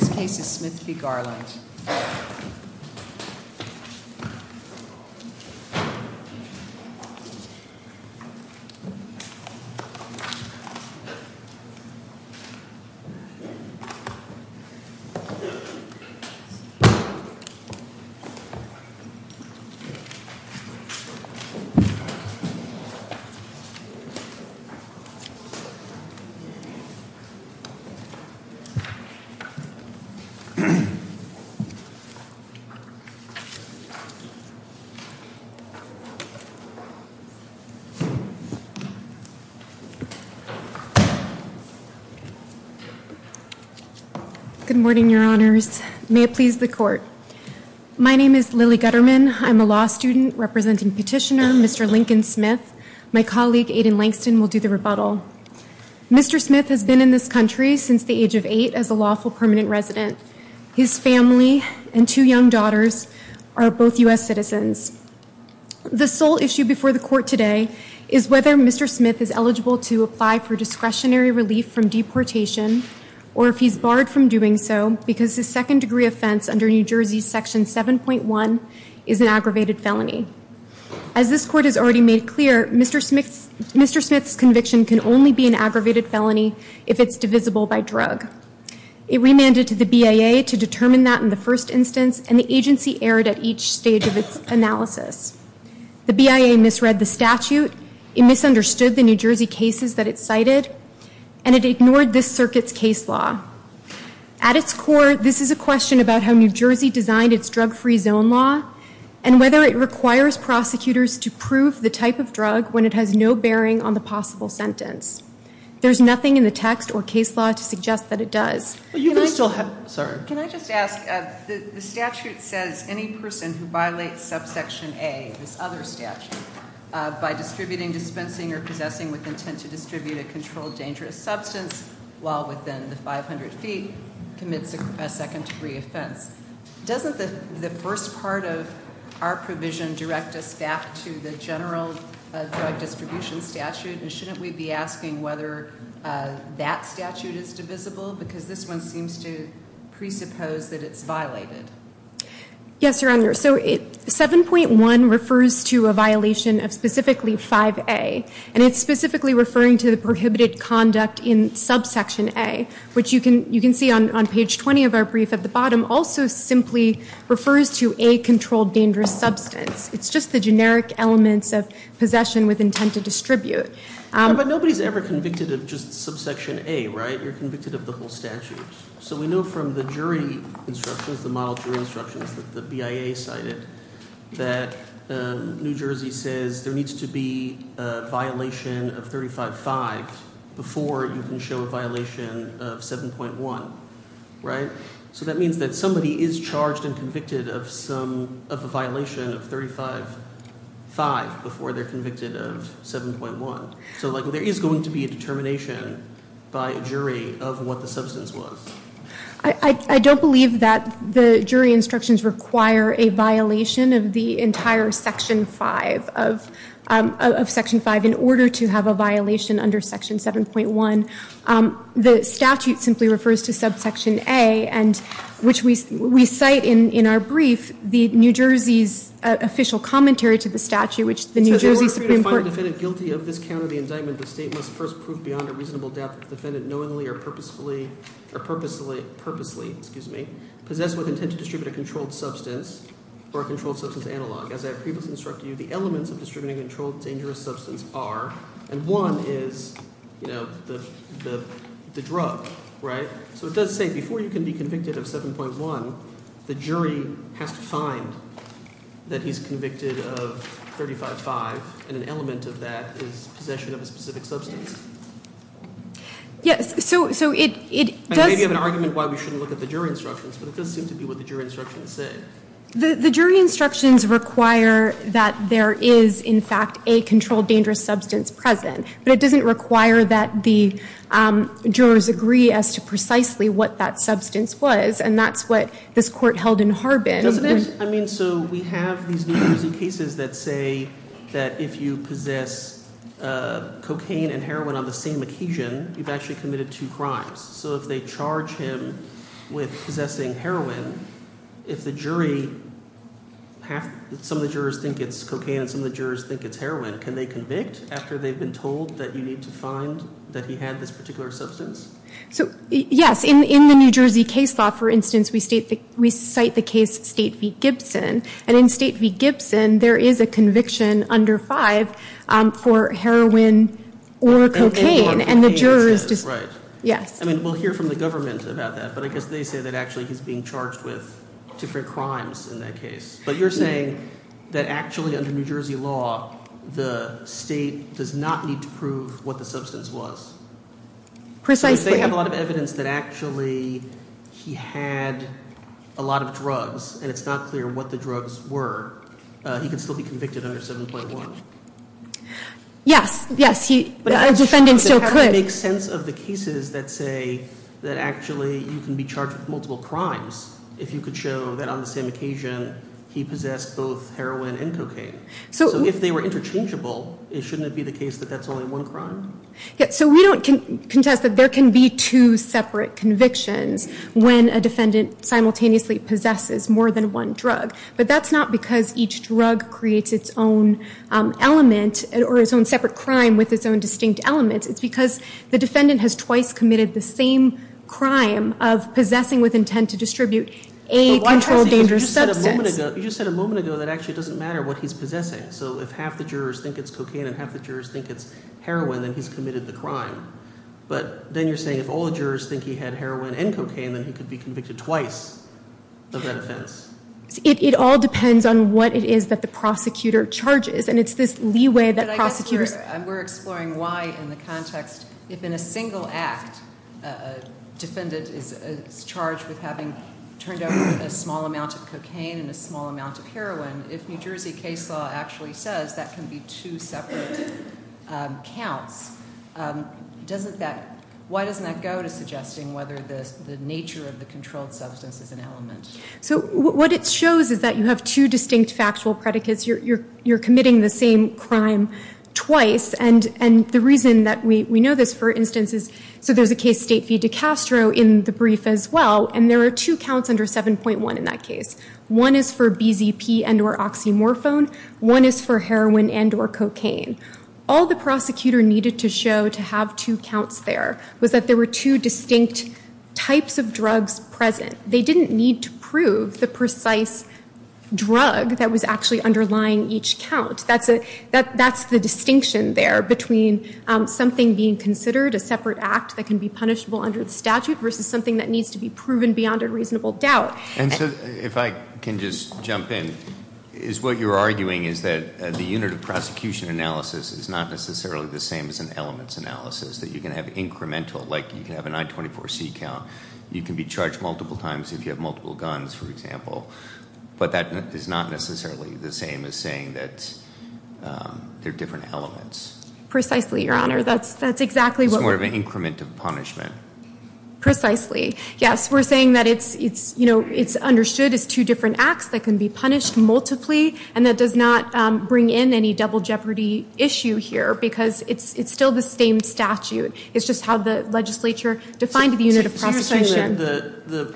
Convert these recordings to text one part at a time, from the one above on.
This case is Smith v. Garland. Good morning, your honors. May it please the court. My name is Lily Gutterman. I'm a law student representing petitioner, Mr. Lincoln Smith. My colleague, Aiden Langston, will do the rebuttal. Mr. Smith has been in this country since the age of eight as a lawful permanent resident. His family and two young daughters are both U.S. citizens. The sole issue before the court today is whether Mr. Smith is eligible to apply for discretionary relief from deportation or if he's barred from doing so because his second degree offense under New Jersey section 7.1 is an aggravated felony. As this court has already made clear, Mr. Smith's conviction can only be an aggravated felony if it's divisible by drug. It remanded to the BIA to determine that in the first instance, and the agency erred at each stage of its analysis. The BIA misread the statute, it misunderstood the New Jersey cases that it cited, and it ignored this circuit's case law. At its core, this is a question about how New Jersey designed its drug-free zone law and whether it requires prosecutors to prove the type of drug when it has no bearing on the possible sentence. There's nothing in the text or case law to suggest that it does. Can I just ask, the statute says any person who violates subsection A, this other statute, by distributing, dispensing, or possessing with intent to distribute a controlled dangerous substance while within the 500 feet commits a second degree offense. Doesn't the first part of our provision direct us back to the general drug distribution statute? And shouldn't we be asking whether that statute is divisible? Because this one seems to presuppose that it's violated. Yes, Your Honor. So 7.1 refers to a violation of specifically 5A, and it's specifically referring to the prohibited conduct in subsection A, which you can see on page 20 of our brief at the bottom also simply refers to a controlled dangerous substance. It's just the generic elements of possession with intent to distribute. But nobody's ever convicted of just subsection A, right? You're convicted of the whole statute. So we know from the jury instructions, the model jury instructions that the BIA cited, that New Jersey says there needs to be a violation of 35-5 before you can show a violation of 7.1, right? So that means that somebody is charged and convicted of a violation of 35-5 before they're convicted of 7.1. So there is going to be a determination by a jury of what the substance was. I don't believe that the jury instructions require a violation of the entire section 5 of section 5 in order to have a violation under section 7.1. The statute simply refers to subsection A, and which we cite in our brief, the New Jersey's official commentary to the statute, which the New Jersey Supreme Court- So in order for you to find a defendant guilty of this count or the indictment, the state must first prove beyond a reasonable doubt that the defendant knowingly or purposefully, or purposely, excuse me, possessed with intent to distribute a controlled substance or a controlled substance analog. As I have previously instructed you, the elements of distributing a controlled dangerous substance are, and one is, you know, the drug, right? So it does say before you can be convicted of 7.1, the jury has to find that he's convicted of 35-5, and an element of that is possession of a specific substance. Yes, so it does- I know you have an argument why we shouldn't look at the jury instructions, but it does seem to be what the jury instructions say. The jury instructions require that there is, in fact, a controlled dangerous substance present, but it doesn't require that the jurors agree as to precisely what that substance was, and that's what this court held in Harbin. Doesn't it? I mean, so we have these New Jersey cases that say that if you possess cocaine and heroin on the same occasion, you've actually committed two crimes. So if they charge him with possessing heroin, if the jury- some of the jurors think it's cocaine and some of the jurors think it's heroin, can they convict after they've been told that you need to find that he had this particular substance? So, yes, in the New Jersey case law, for instance, we cite the case State v. Gibson, and in State v. Gibson, there is a conviction under 5 for heroin or cocaine, and the jurors- That's right. Yes. I mean, we'll hear from the government about that, but I guess they say that actually he's being charged with different crimes in that case. But you're saying that actually under New Jersey law, the state does not need to prove what the substance was. Precisely. So if they have a lot of evidence that actually he had a lot of drugs and it's not clear what the drugs were, he can still be convicted under 7.1. Yes, yes, a defendant still could. It makes sense of the cases that say that actually you can be charged with multiple crimes if you could show that on the same occasion he possessed both heroin and cocaine. So if they were interchangeable, shouldn't it be the case that that's only one crime? Yes, so we don't contest that there can be two separate convictions when a defendant simultaneously possesses more than one drug. But that's not because each drug creates its own element or its own separate crime with its own distinct elements. It's because the defendant has twice committed the same crime of possessing with intent to distribute a controlled dangerous substance. You just said a moment ago that actually it doesn't matter what he's possessing. So if half the jurors think it's cocaine and half the jurors think it's heroin, then he's committed the crime. But then you're saying if all the jurors think he had heroin and cocaine, then he could be convicted twice of that offense. It all depends on what it is that the prosecutor charges, and it's this leeway that prosecutors— in this context, if in a single act a defendant is charged with having turned over a small amount of cocaine and a small amount of heroin, if New Jersey case law actually says that can be two separate counts, why doesn't that go to suggesting whether the nature of the controlled substance is an element? So what it shows is that you have two distinct factual predicates. You're committing the same crime twice, and the reason that we know this, for instance, is— so there's a case, State v. DeCastro, in the brief as well, and there are two counts under 7.1 in that case. One is for BZP and or oxymorphone. One is for heroin and or cocaine. All the prosecutor needed to show to have two counts there was that there were two distinct types of drugs present. They didn't need to prove the precise drug that was actually underlying each count. That's the distinction there between something being considered a separate act that can be punishable under the statute versus something that needs to be proven beyond a reasonable doubt. And so if I can just jump in, is what you're arguing is that the unit of prosecution analysis is not necessarily the same as an elements analysis, that you can have incremental, like you can have a 924C count. You can be charged multiple times if you have multiple guns, for example. But that is not necessarily the same as saying that they're different elements. Precisely, Your Honor. That's exactly what we're— It's more of an increment of punishment. Precisely, yes. We're saying that it's understood as two different acts that can be punished multiply, and that does not bring in any double jeopardy issue here because it's still the same statute. It's just how the legislature defined the unit of prosecution. So you're saying that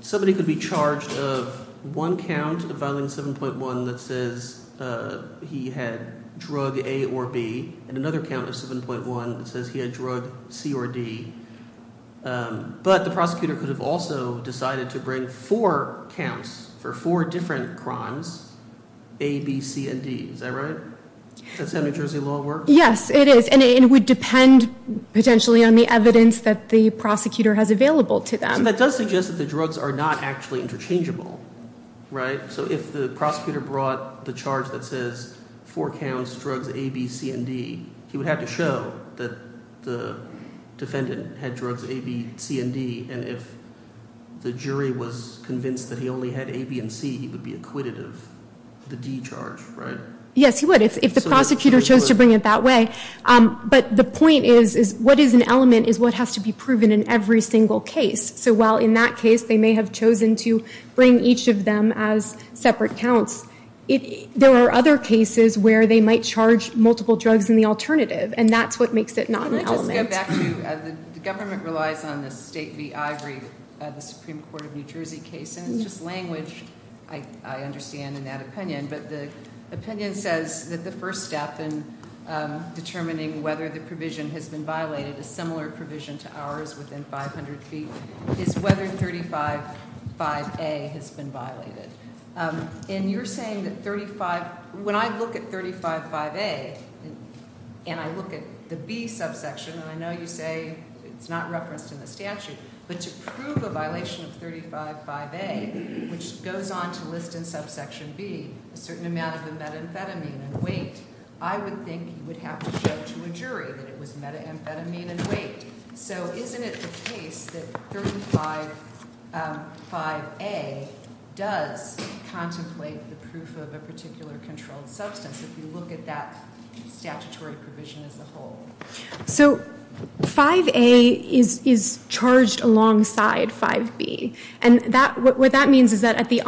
somebody could be charged of one count of Violent 7.1 that says he had drug A or B and another count of 7.1 that says he had drug C or D. But the prosecutor could have also decided to bring four counts for four different crimes, A, B, C, and D. Is that right? That's how New Jersey law works? Yes, it is, and it would depend potentially on the evidence that the prosecutor has available to them. So that does suggest that the drugs are not actually interchangeable, right? So if the prosecutor brought the charge that says four counts, drugs A, B, C, and D, he would have to show that the defendant had drugs A, B, C, and D, and if the jury was convinced that he only had A, B, and C, he would be acquitted of the D charge, right? Yes, he would if the prosecutor chose to bring it that way. But the point is what is an element is what has to be proven in every single case. So while in that case they may have chosen to bring each of them as separate counts, there are other cases where they might charge multiple drugs in the alternative, and that's what makes it not an element. Can I just go back to the government relies on the State v. Ivory, the Supreme Court of New Jersey case, and it's just language I understand in that opinion, but the opinion says that the first step in determining whether the provision has been violated is similar provision to ours within 500 feet, is whether 35-5A has been violated. And you're saying that when I look at 35-5A and I look at the B subsection, and I know you say it's not referenced in the statute, but to prove a violation of 35-5A, which goes on to list in subsection B a certain amount of the methamphetamine and weight, I would think you would have to show to a jury that it was methamphetamine and weight. So isn't it the case that 35-5A does contemplate the proof of a particular controlled substance if you look at that statutory provision as a whole? So 5A is charged alongside 5B. And what that means is that at the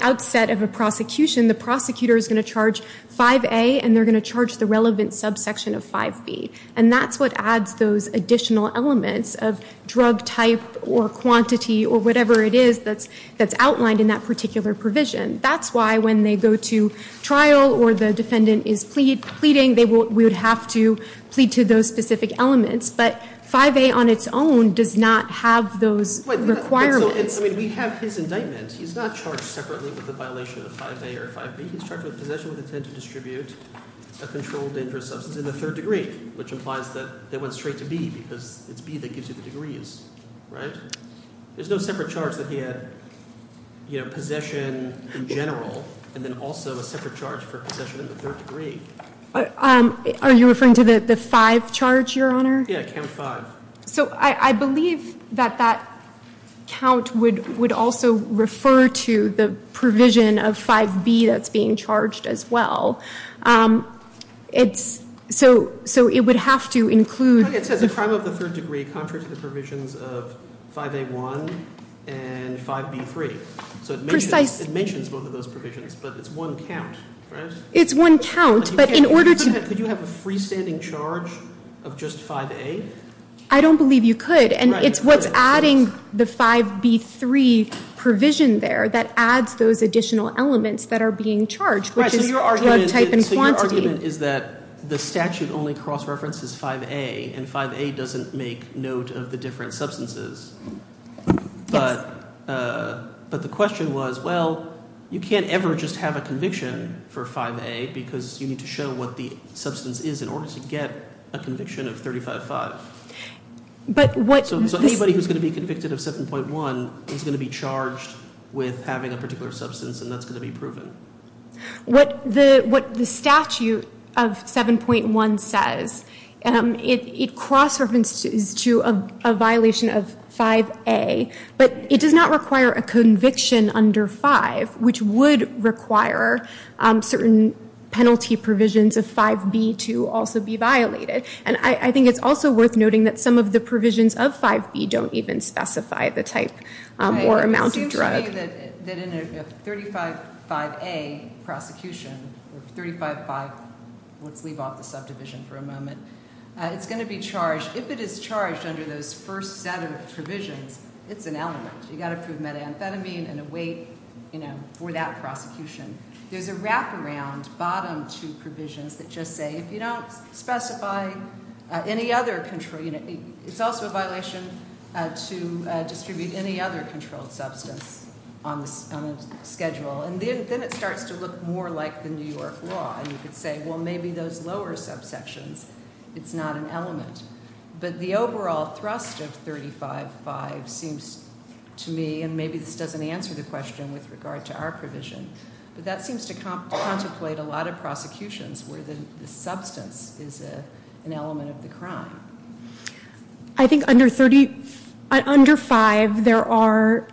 outset of a prosecution, the prosecutor is going to charge 5A and they're going to charge the relevant subsection of 5B. And that's what adds those additional elements of drug type or quantity or whatever it is that's outlined in that particular provision. That's why when they go to trial or the defendant is pleading, we would have to plead to those specific elements. But 5A on its own does not have those requirements. I mean, we have his indictment. He's not charged separately with a violation of 5A or 5B. He's charged with possession with intent to distribute a controlled dangerous substance in the third degree, which implies that they went straight to B because it's B that gives you the degrees, right? There's no separate charge that he had possession in general and then also a separate charge for possession in the third degree. Are you referring to the 5 charge, Your Honor? Yeah, count 5. So I believe that that count would also refer to the provision of 5B that's being charged as well. So it would have to include. It says a crime of the third degree contrary to the provisions of 5A1 and 5B3. So it mentions both of those provisions, but it's one count, right? It's one count, but in order to. Could you have a freestanding charge of just 5A? I don't believe you could, and it's what's adding the 5B3 provision there that adds those additional elements that are being charged, which is drug type and quantity. So your argument is that the statute only cross-references 5A, and 5A doesn't make note of the different substances. But the question was, well, you can't ever just have a conviction for 5A because you need to show what the substance is in order to get a conviction of 35-5. So anybody who's going to be convicted of 7.1 is going to be charged with having a particular substance, and that's going to be proven. What the statute of 7.1 says, it cross-references to a violation of 5A, but it does not require a conviction under 5, which would require certain penalty provisions of 5B to also be violated. And I think it's also worth noting that some of the provisions of 5B don't even specify the type or amount of drug. I'll tell you that in a 35-5A prosecution, or 35-5, let's leave off the subdivision for a moment, it's going to be charged, if it is charged under those first set of provisions, it's an element. You've got to prove methamphetamine and a weight for that prosecution. There's a wraparound bottom two provisions that just say, if you don't specify any other control, it's also a violation to distribute any other controlled substance on the schedule. And then it starts to look more like the New York law, and you could say, well, maybe those lower subsections, it's not an element. But the overall thrust of 35-5 seems to me, and maybe this doesn't answer the question with regard to our provision, but that seems to contemplate a lot of prosecutions where the substance is an element of the crime. I think under 5, there are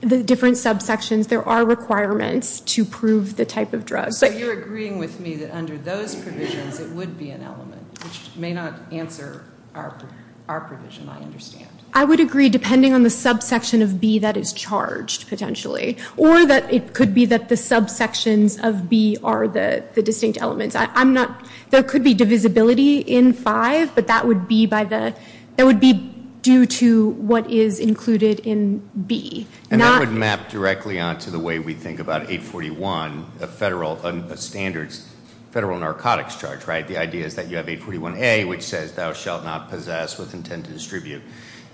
the different subsections, there are requirements to prove the type of drug. So you're agreeing with me that under those provisions, it would be an element, which may not answer our provision, I understand. I would agree, depending on the subsection of B that is charged, potentially. Or that it could be that the subsections of B are the distinct elements. There could be divisibility in 5, but that would be due to what is included in B. And that would map directly onto the way we think about 841, a federal narcotics charge, right? The idea is that you have 841A, which says, thou shalt not possess with intent to distribute.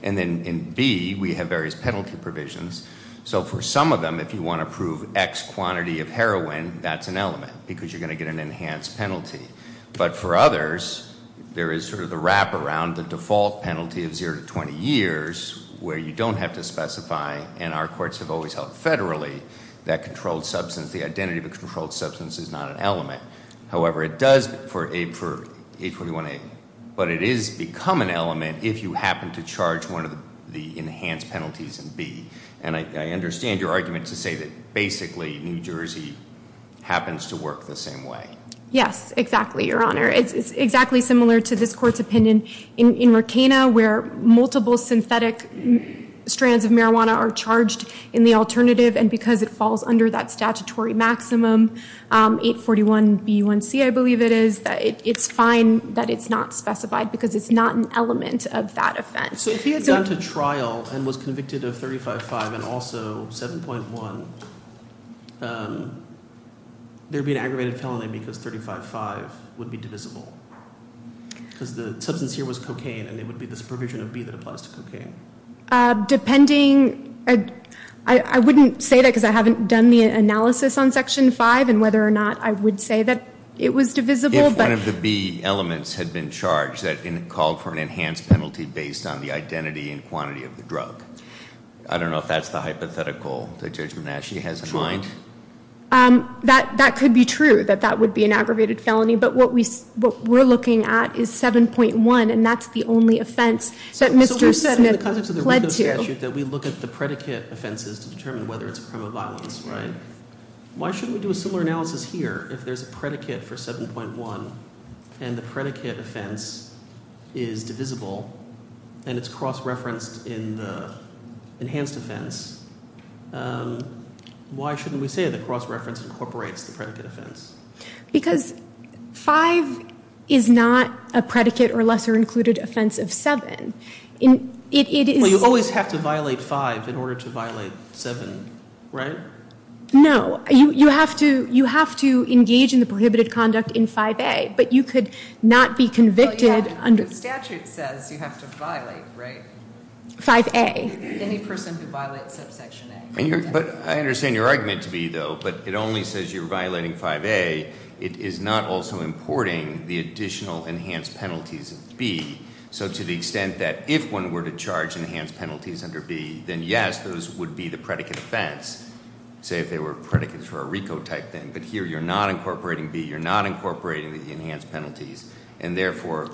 And then in B, we have various penalty provisions. So for some of them, if you want to prove X quantity of heroin, that's an element, because you're going to get an enhanced penalty. But for others, there is sort of the wraparound, the default penalty of 0 to 20 years, where you don't have to specify, and our courts have always held federally, that controlled substance, the identity of a controlled substance is not an element. However, it does for 841A. But it is become an element if you happen to charge one of the enhanced penalties in B. And I understand your argument to say that basically, New Jersey happens to work the same way. Yes, exactly, Your Honor. It's exactly similar to this court's opinion in Ricana, where multiple synthetic strands of marijuana are charged in the alternative, and because it falls under that statutory maximum, 841B1C, I believe it is, it's fine that it's not specified because it's not an element of that offense. So if he had gone to trial and was convicted of 35-5 and also 7.1, there would be an aggravated felony because 35-5 would be divisible. Because the substance here was cocaine, and there would be this provision of B that applies to cocaine. Depending, I wouldn't say that because I haven't done the analysis on Section 5 and whether or not I would say that it was divisible. If one of the B elements had been charged and called for an enhanced penalty based on the identity and quantity of the drug. I don't know if that's the hypothetical that Judge Menasche has in mind. That could be true, that that would be an aggravated felony. But what we're looking at is 7.1, and that's the only offense that Mr. Smith pled to. So in the context of the RICO statute, that we look at the predicate offenses to determine whether it's a crime of violence, right? Why shouldn't we do a similar analysis here if there's a predicate for 7.1 and the predicate offense is divisible and it's cross-referenced in the enhanced offense? Why shouldn't we say that cross-reference incorporates the predicate offense? Because 5 is not a predicate or lesser-included offense of 7. Well, you always have to violate 5 in order to violate 7, right? No, you have to engage in the prohibited conduct in 5A, but you could not be convicted under- But the statute says you have to violate, right? 5A. Any person who violates subsection A. But I understand your argument to me, though, but it only says you're violating 5A. It is not also importing the additional enhanced penalties of B. So to the extent that if one were to charge enhanced penalties under B, then yes, those would be the predicate offense, say if they were predicates for a RICO-type thing. But here, you're not incorporating B. You're not incorporating the enhanced penalties, and therefore,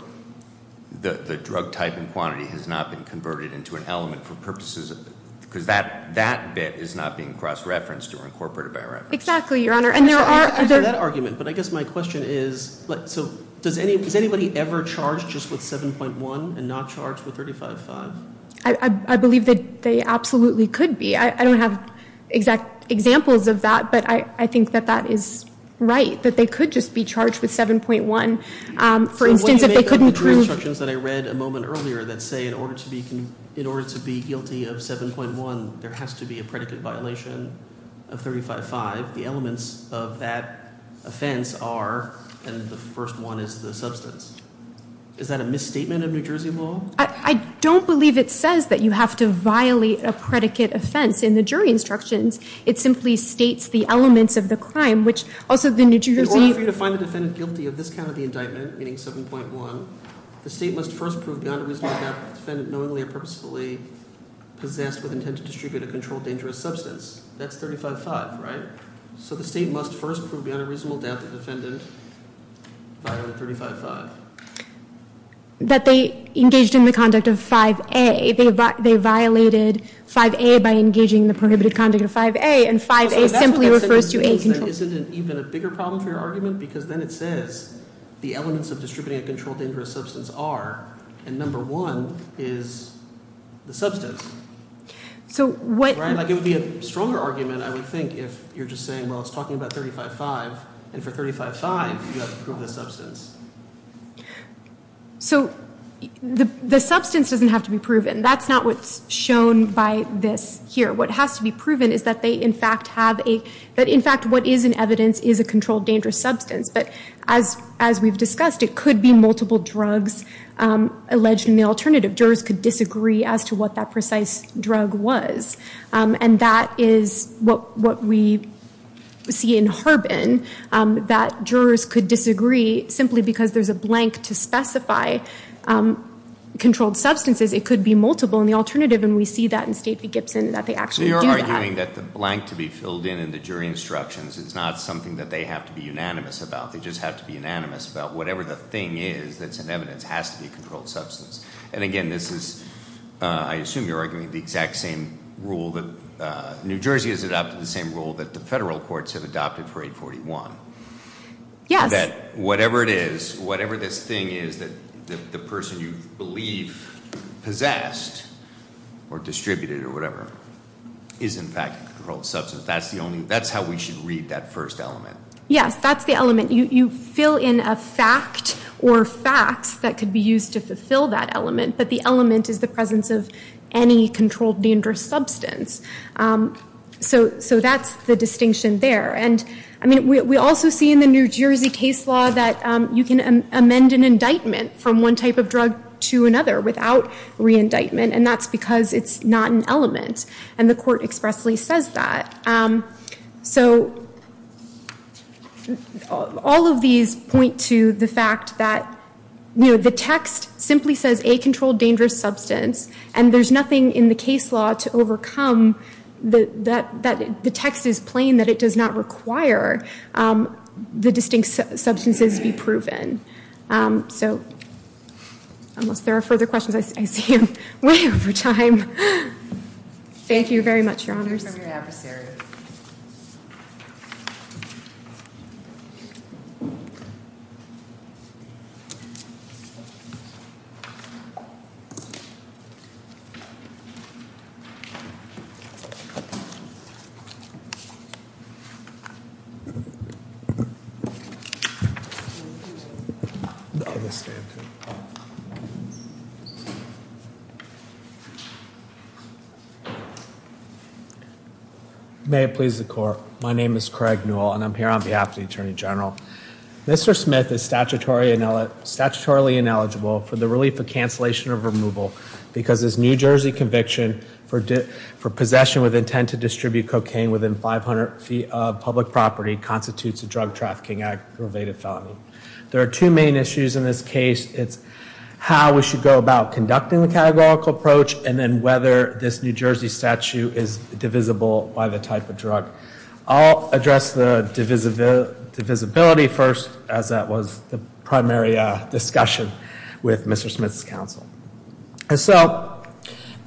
the drug type and quantity has not been converted into an element for purposes of it. Because that bit is not being cross-referenced or incorporated by reference. Exactly, Your Honor. I'm sorry for that argument, but I guess my question is, so does anybody ever charge just with 7.1 and not charge with 35.5? I believe that they absolutely could be. I don't have exact examples of that, but I think that that is right, that they could just be charged with 7.1. For instance, if they couldn't prove- In order to be guilty of 7.1, there has to be a predicate violation of 35.5. The elements of that offense are, and the first one is the substance. Is that a misstatement of New Jersey law? I don't believe it says that you have to violate a predicate offense in the jury instructions. It simply states the elements of the crime, which also the New Jersey- If you have this kind of indictment, meaning 7.1, the state must first prove beyond a reasonable doubt that the defendant knowingly or purposefully possessed with intent to distribute a controlled dangerous substance. That's 35.5, right? So the state must first prove beyond a reasonable doubt that the defendant violated 35.5. That they engaged in the conduct of 5A. They violated 5A by engaging in the prohibited conduct of 5A, and 5A simply refers to a controlled- Isn't it even a bigger problem for your argument? Because then it says the elements of distributing a controlled dangerous substance are, and number one is the substance. It would be a stronger argument, I would think, if you're just saying, well, it's talking about 35.5, and for 35.5, you have to prove the substance. So the substance doesn't have to be proven. That's not what's shown by this here. What has to be proven is that they, in fact, have a- That, in fact, what is in evidence is a controlled dangerous substance. But as we've discussed, it could be multiple drugs alleged in the alternative. Jurors could disagree as to what that precise drug was. And that is what we see in Harbin, that jurors could disagree simply because there's a blank to specify controlled substances. Because it could be multiple in the alternative, and we see that in Stacey Gibson, that they actually do that. So you're arguing that the blank to be filled in in the jury instructions is not something that they have to be unanimous about. They just have to be unanimous about whatever the thing is that's in evidence has to be a controlled substance. And again, this is, I assume you're arguing the exact same rule that New Jersey has adopted the same rule that the federal courts have adopted for 841. Yes. That whatever it is, whatever this thing is that the person you believe possessed or distributed or whatever, is in fact a controlled substance. That's how we should read that first element. Yes, that's the element. You fill in a fact or facts that could be used to fulfill that element. But the element is the presence of any controlled dangerous substance. So that's the distinction there. And we also see in the New Jersey case law that you can amend an indictment from one type of drug to another without re-indictment. And that's because it's not an element. And the court expressly says that. So all of these point to the fact that the text simply says a controlled dangerous substance. And there's nothing in the case law to overcome that the text is plain that it does not require the distinct substances be proven. So unless there are further questions, I see I'm way over time. Here's the adversary. May it please the court. My name is Craig Newell and I'm here on behalf of the Attorney General. Mr. Smith is statutorily ineligible for the relief of cancellation of removal because his New Jersey conviction for possession with intent to distribute cocaine within 500 feet of public property constitutes a drug trafficking aggravated felony. There are two main issues in this case. It's how we should go about conducting the categorical approach and then whether this New Jersey statute is divisible by the type of drug. I'll address the divisibility first as that was the primary discussion with Mr. Smith's counsel. So both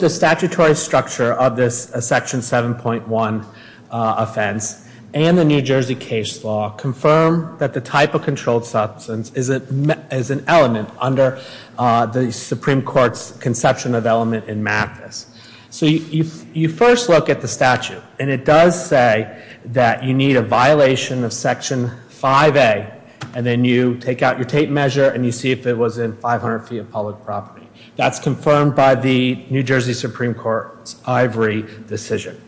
the statutory structure of this Section 7.1 offense and the New Jersey case law confirm that the type of controlled substance is an element under the Supreme Court's conception of element in MAFIS. So you first look at the statute and it does say that you need a violation of Section 5A and then you take out your tape measure and you see if it was in 500 feet of public property. That's confirmed by the New Jersey Supreme Court's ivory decision.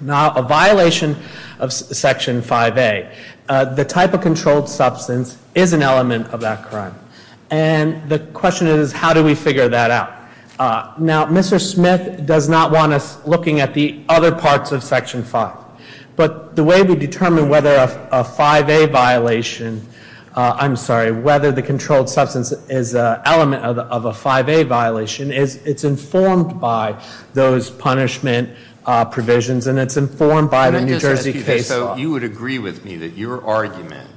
Now, a violation of Section 5A, the type of controlled substance is an element of that crime. And the question is how do we figure that out? Now, Mr. Smith does not want us looking at the other parts of Section 5. But the way we determine whether a 5A violation, I'm sorry, whether the controlled substance is an element of a 5A violation, it's informed by those punishment provisions and it's informed by the New Jersey case law. So you would agree with me that your argument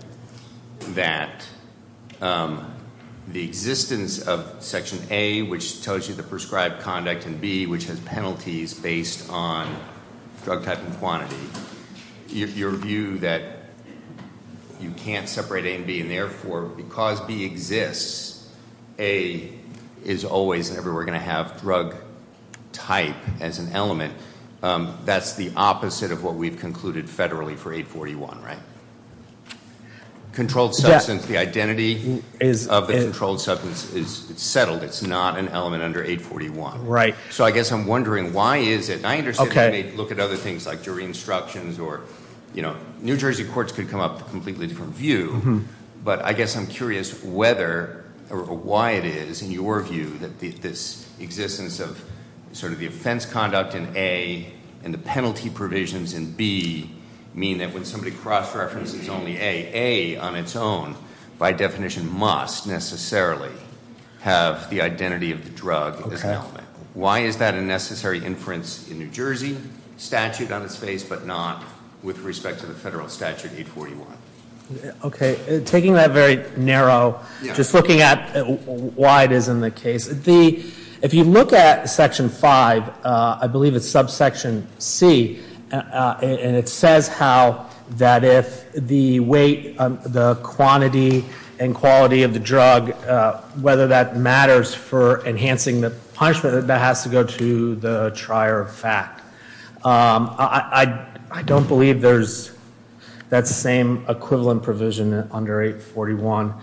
that the existence of Section A, which tells you the prescribed conduct, and B, which has penalties based on drug type and quantity, your view that you can't separate A and B and therefore because B exists, A is always and everywhere going to have drug type as an element, that's the opposite of what we've concluded federally for 841, right? Controlled substance, the identity of the controlled substance is settled. It's not an element under 841. So I guess I'm wondering why is it? I understand they may look at other things like jury instructions or New Jersey courts could come up with a completely different view. But I guess I'm curious whether or why it is, in your view, that this existence of sort of the offense conduct in A and the penalty provisions in B mean that when somebody cross-references only A, A on its own by definition must necessarily have the identity of the drug as an element. Why is that a necessary inference in New Jersey statute on its face but not with respect to the federal statute 841? Okay, taking that very narrow, just looking at why it is in the case. If you look at section 5, I believe it's subsection C. And it says how that if the weight, the quantity and quality of the drug, whether that matters for enhancing the punishment, that has to go to the trier of fact. I don't believe there's that same equivalent provision under 841.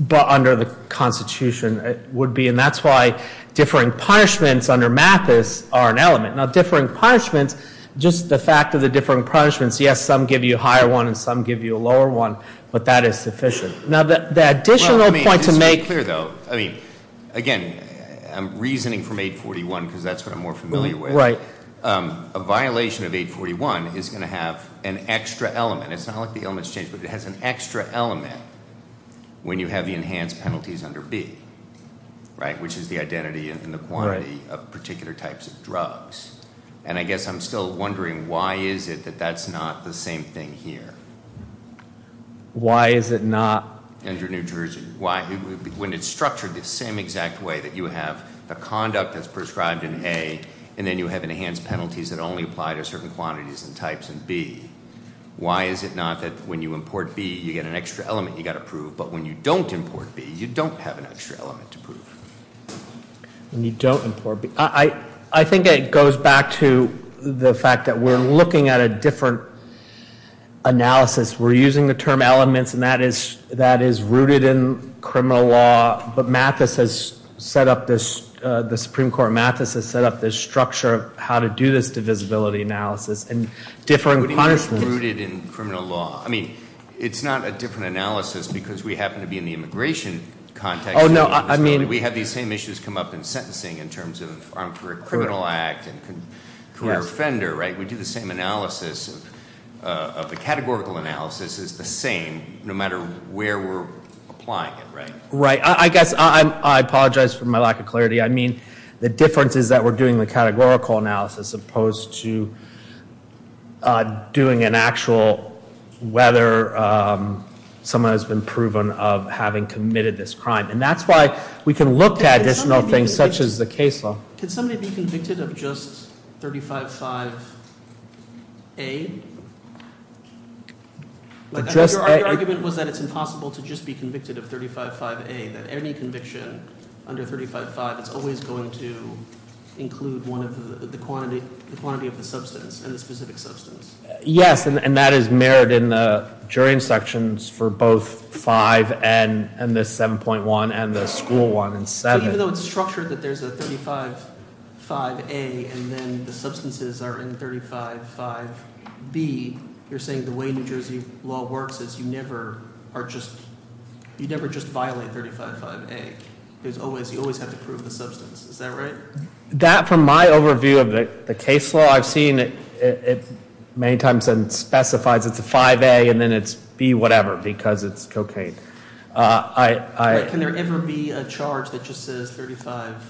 But under the constitution, it would be. And that's why differing punishments under MAPIS are an element. Now, differing punishments, just the fact of the differing punishments. Yes, some give you a higher one and some give you a lower one, but that is sufficient. Now, the additional point to make- I'm reasoning from 841 because that's what I'm more familiar with. Right. A violation of 841 is going to have an extra element. It's not like the element's changed, but it has an extra element when you have the enhanced penalties under B, right? Which is the identity and the quantity of particular types of drugs. And I guess I'm still wondering why is it that that's not the same thing here? Why is it not- When it's structured the same exact way that you have the conduct as prescribed in A, and then you have enhanced penalties that only apply to certain quantities and types in B, why is it not that when you import B, you get an extra element you've got to prove, but when you don't import B, you don't have an extra element to prove? When you don't import B. I think it goes back to the fact that we're looking at a different analysis. We're using the term elements, and that is rooted in criminal law. But Mathis has set up this-the Supreme Court of Mathis has set up this structure of how to do this divisibility analysis. And different- Rooted in criminal law. I mean, it's not a different analysis because we happen to be in the immigration context. Oh, no, I mean- We have these same issues come up in sentencing in terms of Armed Career Criminal Act and career offender, right? The categorical analysis is the same no matter where we're applying it, right? Right, I guess I apologize for my lack of clarity. I mean, the difference is that we're doing the categorical analysis as opposed to doing an actual whether someone has been proven of having committed this crime. And that's why we can look at additional things such as the case law. Could somebody be convicted of just 35-5A? Your argument was that it's impossible to just be convicted of 35-5A. That any conviction under 35-5 is always going to include one of the quantity of the substance and the specific substance. Yes, and that is mirrored in the jury instructions for both 5 and the 7.1 and the school one in 7. So even though it's structured that there's a 35-5A and then the substances are in 35-5B, you're saying the way New Jersey law works is you never just violate 35-5A. You always have to prove the substance, is that right? That, from my overview of the case law, I've seen it many times and it specifies it's a 5A and then it's B whatever because it's cocaine. Can there ever be a charge that just says 35-5A?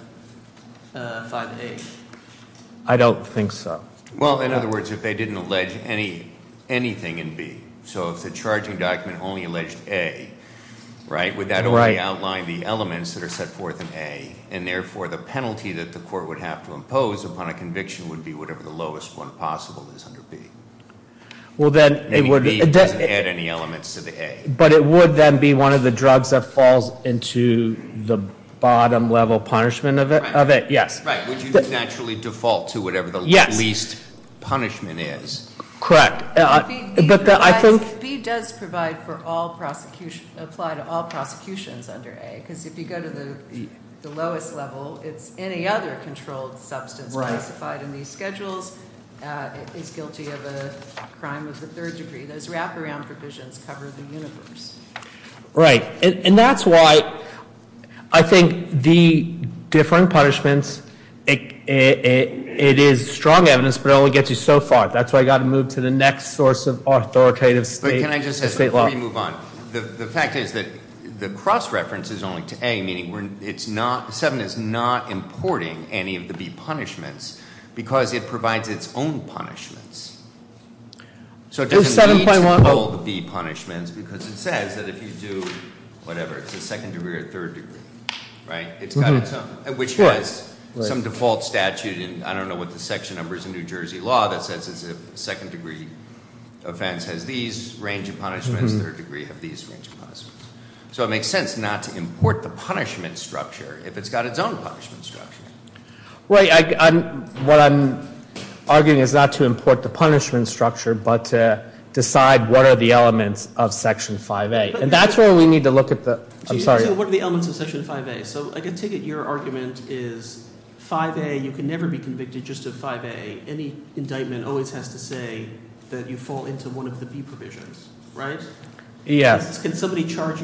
I don't think so. Well, in other words, if they didn't allege anything in B, so if the charging document only alleged A, right? Would that only outline the elements that are set forth in A? And therefore, the penalty that the court would have to impose upon a conviction would be whatever the lowest one possible is under B. Well then- Meaning B doesn't add any elements to the A. But it would then be one of the drugs that falls into the bottom level punishment of it, yes. Right, would you naturally default to whatever the least punishment is? Yes, correct. But I think- B does provide for all prosecution, apply to all prosecutions under A. Because if you go to the lowest level, it's any other controlled substance classified in these schedules is guilty of a crime of the third degree. Those wraparound provisions cover the universe. Right, and that's why I think the differing punishments, it is strong evidence but it only gets you so far. That's why I've got to move to the next source of authoritative state law. Can I just ask before we move on, the fact is that the cross reference is only to A, meaning 7 is not importing any of the B punishments because it provides its own punishments. So it doesn't need to pull the B punishments because it says that if you do whatever, it's a second degree or a third degree, right? It's got its own, which has some default statute. I don't know what the section number is in New Jersey law that says it's a second degree offense has these range of punishments, third degree have these range of punishments. So it makes sense not to import the punishment structure if it's got its own punishment structure. What I'm arguing is not to import the punishment structure but to decide what are the elements of Section 5A. And that's where we need to look at the- I'm sorry. What are the elements of Section 5A? So I can take it your argument is 5A, you can never be convicted just of 5A. Any indictment always has to say that you fall into one of the B provisions, right? Yes. Can somebody charge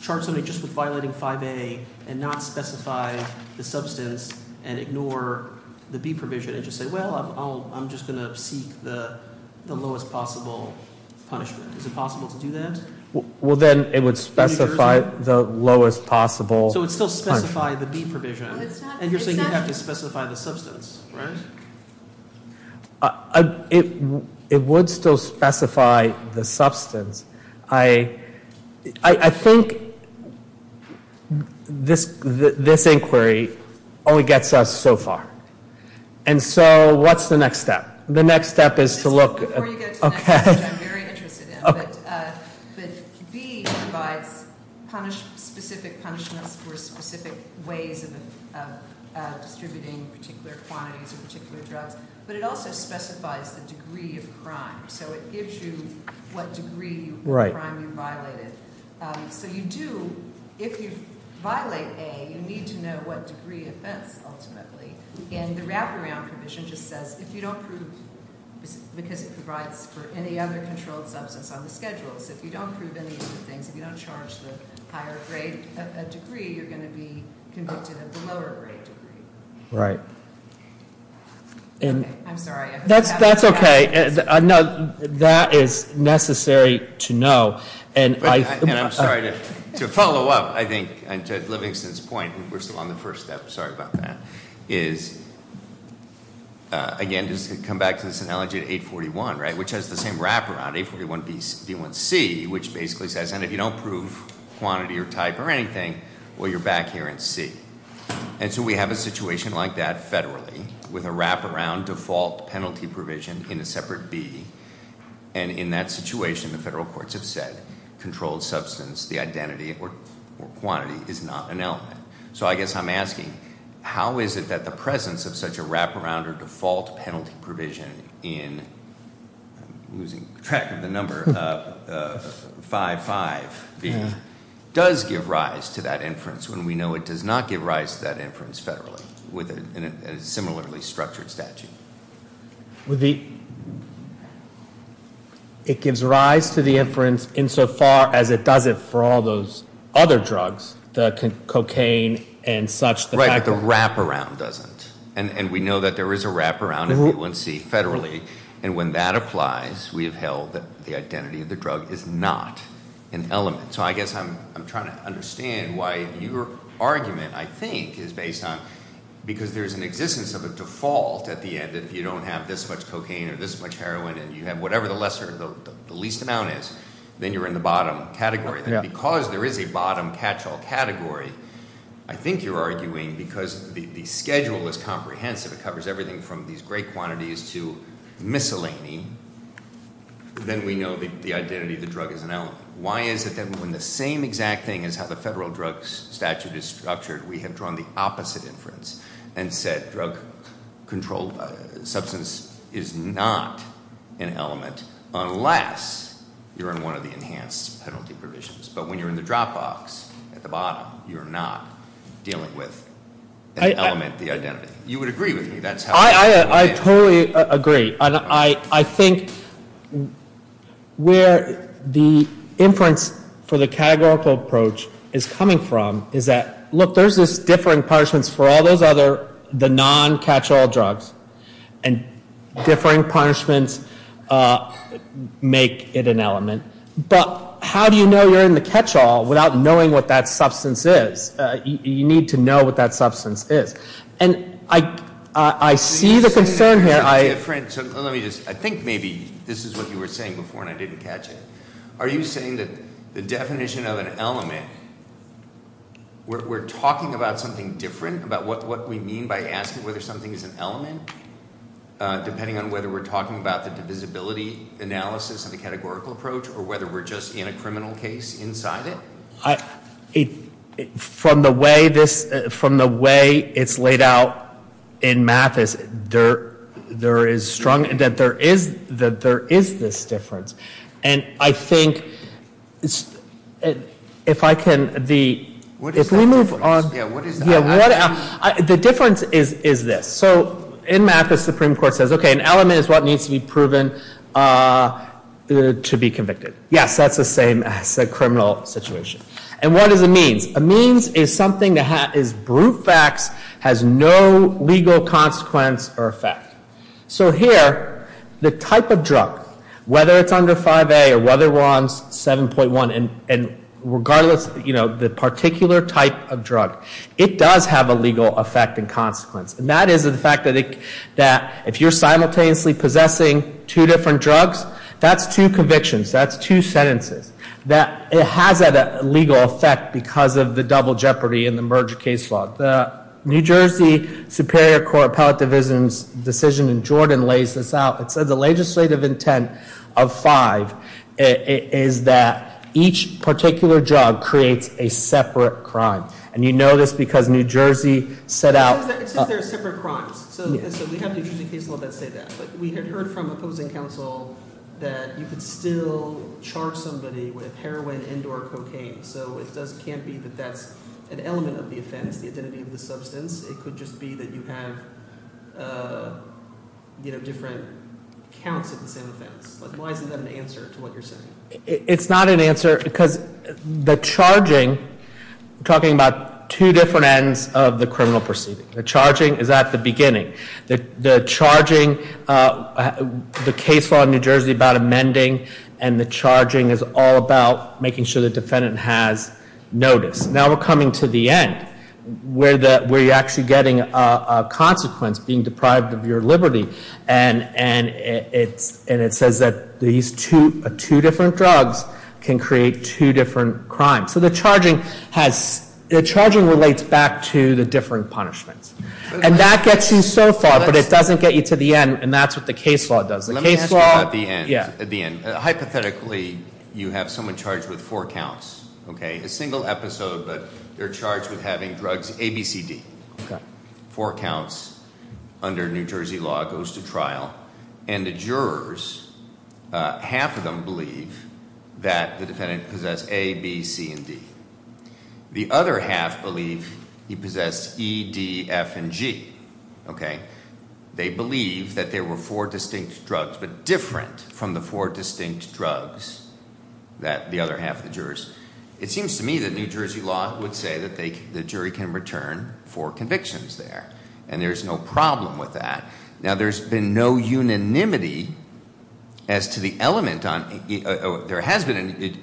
somebody just with violating 5A and not specify the substance and ignore the B provision and just say, well, I'm just going to seek the lowest possible punishment? Is it possible to do that? Well, then it would specify the lowest possible- So it would still specify the B provision and you're saying you'd have to specify the substance, right? It would still specify the substance. I think this inquiry only gets us so far. And so what's the next step? The next step is to look- Right. Right. I'm sorry. That's okay. No, that is necessary to know. And I'm sorry to follow up, I think, to Livingston's point. We're still on the first step. Sorry about that. Is, again, just to come back to this analogy of 841, right? Which has the same wraparound, 841B1C, which basically says, and if you don't prove quantity or type or anything, well, you're back here in C. And so we have a situation like that federally with a wraparound default penalty provision in a separate B. And in that situation, the federal courts have said controlled substance, the identity or quantity is not an element. So I guess I'm asking, how is it that the presence of such a wraparound or default penalty provision in, I'm losing track of the number, 55B does give rise to that inference when we know it does not give rise to that inference federally with a similarly structured statute? With the, it gives rise to the inference insofar as it doesn't for all those other drugs, the cocaine and such. Right, the wraparound doesn't. And we know that there is a wraparound in B1C federally. And when that applies, we have held that the identity of the drug is not an element. So I guess I'm trying to understand why your argument, I think, is based on, because there's an existence of a default at the end. If you don't have this much cocaine or this much heroin, and you have whatever the lesser, the least amount is, then you're in the bottom category. Because there is a bottom catch-all category, I think you're arguing, because the schedule is comprehensive, it covers everything from these great quantities to miscellany, then we know the identity of the drug is an element. Why is it that when the same exact thing as how the federal drug statute is structured, we have drawn the opposite inference and said drug controlled substance is not an element, unless you're in one of the enhanced penalty provisions. But when you're in the drop box at the bottom, you're not dealing with an element, the identity. You would agree with me, that's how- I totally agree. And I think where the inference for the categorical approach is coming from is that, look, there's this differing punishments for all those other, the non-catch-all drugs. And differing punishments make it an element. But how do you know you're in the catch-all without knowing what that substance is? You need to know what that substance is. And I see the concern here. Let me just, I think maybe this is what you were saying before and I didn't catch it. Are you saying that the definition of an element, we're talking about something different, about what we mean by asking whether something is an element, depending on whether we're talking about the divisibility analysis of the categorical approach, or whether we're just in a criminal case inside it? From the way it's laid out in Mathis, there is this difference. And I think, if I can, the- What is that difference? Yeah, what is that? The difference is this. So in Mathis, the Supreme Court says, okay, an element is what needs to be proven to be convicted. Yes, that's the same as a criminal situation. And what is a means? A means is something that is brute facts, has no legal consequence or effect. So here, the type of drug, whether it's under 5A or whether one's 7.1, and regardless of the particular type of drug, it does have a legal effect and consequence. And that is the fact that if you're simultaneously possessing two different drugs, that's two convictions, that's two sentences. It has a legal effect because of the double jeopardy in the merger case law. The New Jersey Superior Court Appellate Division's decision in Jordan lays this out. It says the legislative intent of five is that each particular drug creates a separate crime. And you know this because New Jersey set out- It says there are separate crimes. So we have New Jersey case law that say that. We had heard from opposing counsel that you could still charge somebody with heroin and or cocaine. So it can't be that that's an element of the offense, the identity of the substance. It could just be that you have different counts of the same offense. Why isn't that an answer to what you're saying? It's not an answer because the charging, we're talking about two different ends of the criminal proceeding. The charging is at the beginning. The charging, the case law in New Jersey about amending and the charging is all about making sure the defendant has notice. Now we're coming to the end where you're actually getting a consequence, being deprived of your liberty. And it says that these two different drugs can create two different crimes. So the charging relates back to the different punishments. And that gets you so far, but it doesn't get you to the end, and that's what the case law does. The case law- Let me ask you about the end. Yeah. At the end. Hypothetically, you have someone charged with four counts. Okay? A single episode, but they're charged with having drugs A, B, C, D. Okay. Four counts under New Jersey law goes to trial. And the jurors, half of them believe that the defendant possessed A, B, C, and D. The other half believe he possessed E, D, F, and G. Okay? They believe that there were four distinct drugs, but different from the four distinct drugs that the other half of the jurors- It seems to me that New Jersey law would say that the jury can return four convictions there. And there's no problem with that. Now, there's been no unanimity as to the element on- There has been a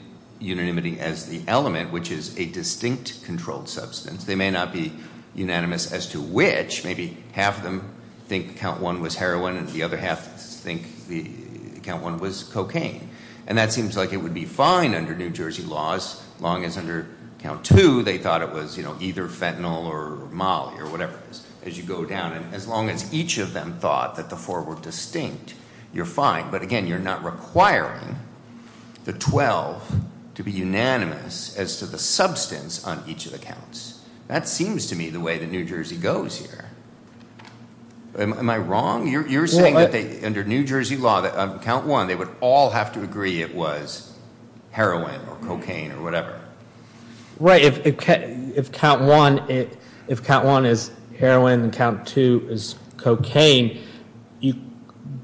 unanimity as the element, which is a distinct controlled substance. They may not be unanimous as to which. Maybe half of them think count one was heroin, and the other half think count one was cocaine. And that seems like it would be fine under New Jersey laws, as long as under count two they thought it was either fentanyl or molly or whatever, as you go down. As long as each of them thought that the four were distinct, you're fine. But again, you're not requiring the 12 to be unanimous as to the substance on each of the counts. That seems to me the way that New Jersey goes here. Am I wrong? You're saying that under New Jersey law, count one, they would all have to agree it was heroin or cocaine or whatever. Right, if count one is heroin and count two is cocaine, the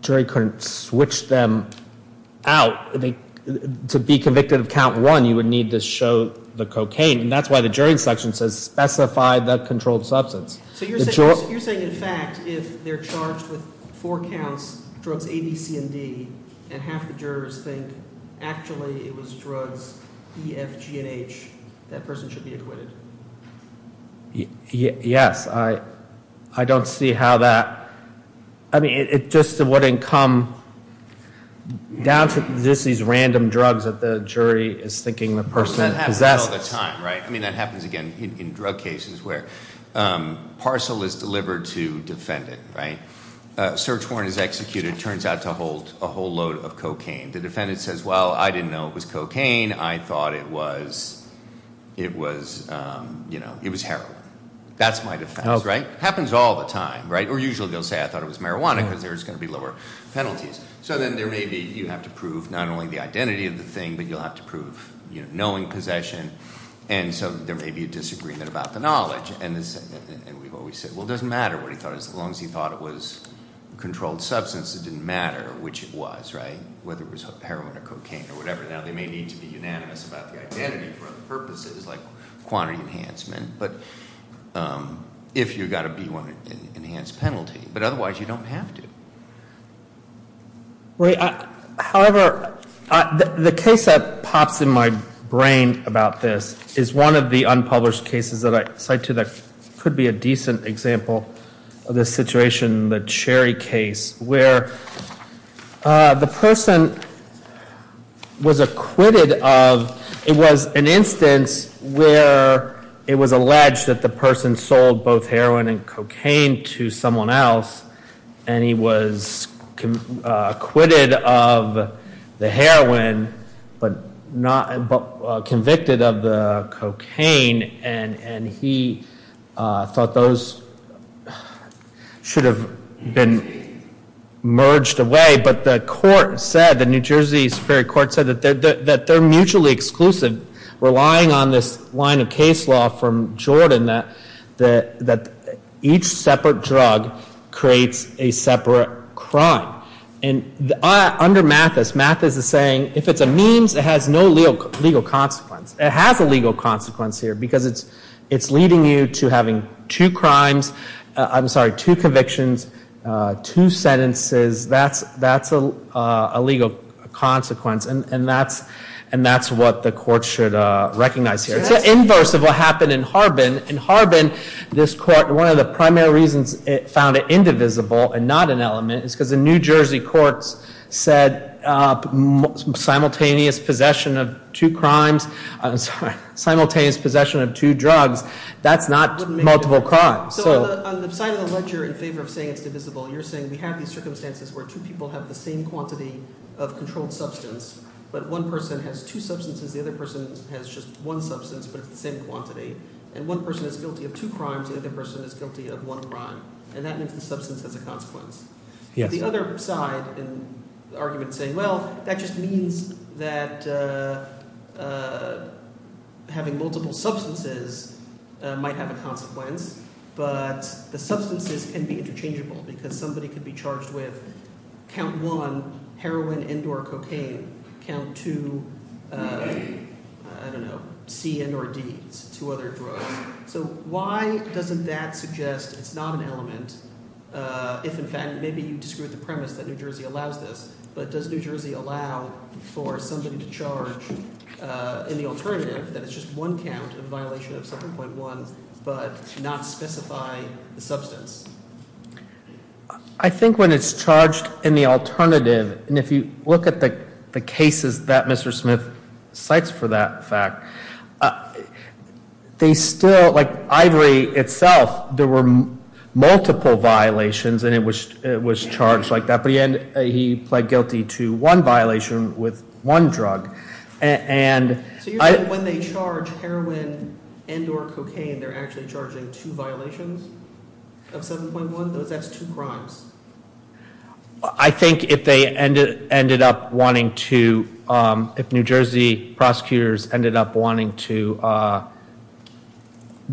jury couldn't switch them out. To be convicted of count one, you would need to show the cocaine. And that's why the jury's section says specify the controlled substance. So you're saying, in fact, if they're charged with four counts, drugs A, B, C, and D, and half the jurors think actually it was drugs E, F, G, and H, that person should be acquitted? Yes. I don't see how that, I mean, it just wouldn't come down to just these random drugs that the jury is thinking the person possesses. That happens all the time, right? I mean, that happens again in drug cases where parcel is delivered to defendant, right? Search warrant is executed, turns out to hold a whole load of cocaine. The defendant says, well, I didn't know it was cocaine. I thought it was heroin. That's my defense, right? Happens all the time, right? Or usually they'll say I thought it was marijuana because there's going to be lower penalties. So then there may be, you have to prove not only the identity of the thing, but you'll have to prove knowing possession. And so there may be a disagreement about the knowledge. And we've always said, well, it doesn't matter what he thought. As long as he thought it was a controlled substance, it didn't matter which it was, right? Whether it was heroin or cocaine or whatever. Now, they may need to be unanimous about the identity for other purposes, like quantity enhancement. But if you've got a B1, an enhanced penalty. But otherwise, you don't have to. However, the case that pops in my brain about this is one of the unpublished cases that I cite to that could be a decent example of this situation. The Cherry case, where the person was acquitted of, it was an instance where it was alleged that the person sold both heroin and cocaine to someone else. And he was acquitted of the heroin, but convicted of the cocaine. And he thought those should have been merged away. But the court said, the New Jersey Supreme Court said that they're mutually exclusive, relying on this line of case law from Jordan, that each separate drug creates a separate crime. And under Mathis, Mathis is saying, if it's a memes, it has no legal consequence. It has a legal consequence here, because it's leading you to having two crimes, I'm sorry, two convictions, two sentences. That's a legal consequence. And that's what the court should recognize here. It's the inverse of what happened in Harbin. In Harbin, this court, one of the primary reasons it found it indivisible and not an element, is because the New Jersey courts said simultaneous possession of two crimes, I'm sorry, simultaneous possession of two drugs, that's not multiple crimes. So on the side of the ledger in favor of saying it's divisible, you're saying we have these circumstances where two people have the same quantity of controlled substance. But one person has two substances. The other person has just one substance, but it's the same quantity. And one person is guilty of two crimes. The other person is guilty of one crime. And that means the substance has a consequence. The other side in the argument is saying, well, that just means that having multiple substances might have a consequence. But the substances can be interchangeable because somebody could be charged with count one, heroin and or cocaine, count two, I don't know, C and or D, two other drugs. So why doesn't that suggest it's not an element, if in fact maybe you disagree with the premise that New Jersey allows this, but does New Jersey allow for somebody to charge in the alternative that it's just one count in violation of 7.1 but not specify the substance? I think when it's charged in the alternative, and if you look at the cases that Mr. Smith cites for that fact, they still, like Ivory itself, there were multiple violations and it was charged like that. But he pled guilty to one violation with one drug. So you're saying when they charge heroin and or cocaine, they're actually charging two violations of 7.1? That's two crimes. I think if they ended up wanting to, if New Jersey prosecutors ended up wanting to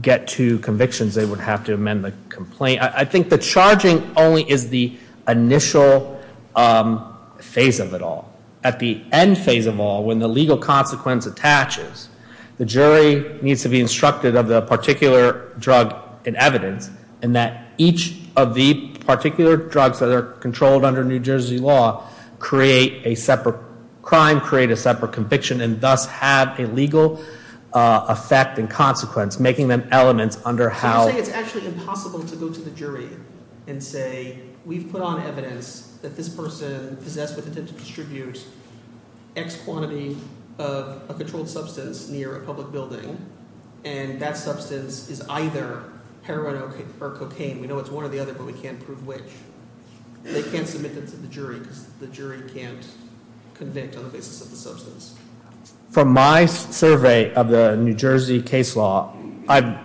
get to convictions, they would have to amend the complaint. I think the charging only is the initial phase of it all. At the end phase of all, when the legal consequence attaches, the jury needs to be instructed of the particular drug in evidence, and that each of the particular drugs that are controlled under New Jersey law create a separate crime, create a separate conviction, and thus have a legal effect and consequence, making them elements under how- and say, we've put on evidence that this person possessed with intent to distribute X quantity of a controlled substance near a public building, and that substance is either heroin or cocaine. We know it's one or the other, but we can't prove which. They can't submit that to the jury because the jury can't convict on the basis of the substance. From my survey of the New Jersey case law, I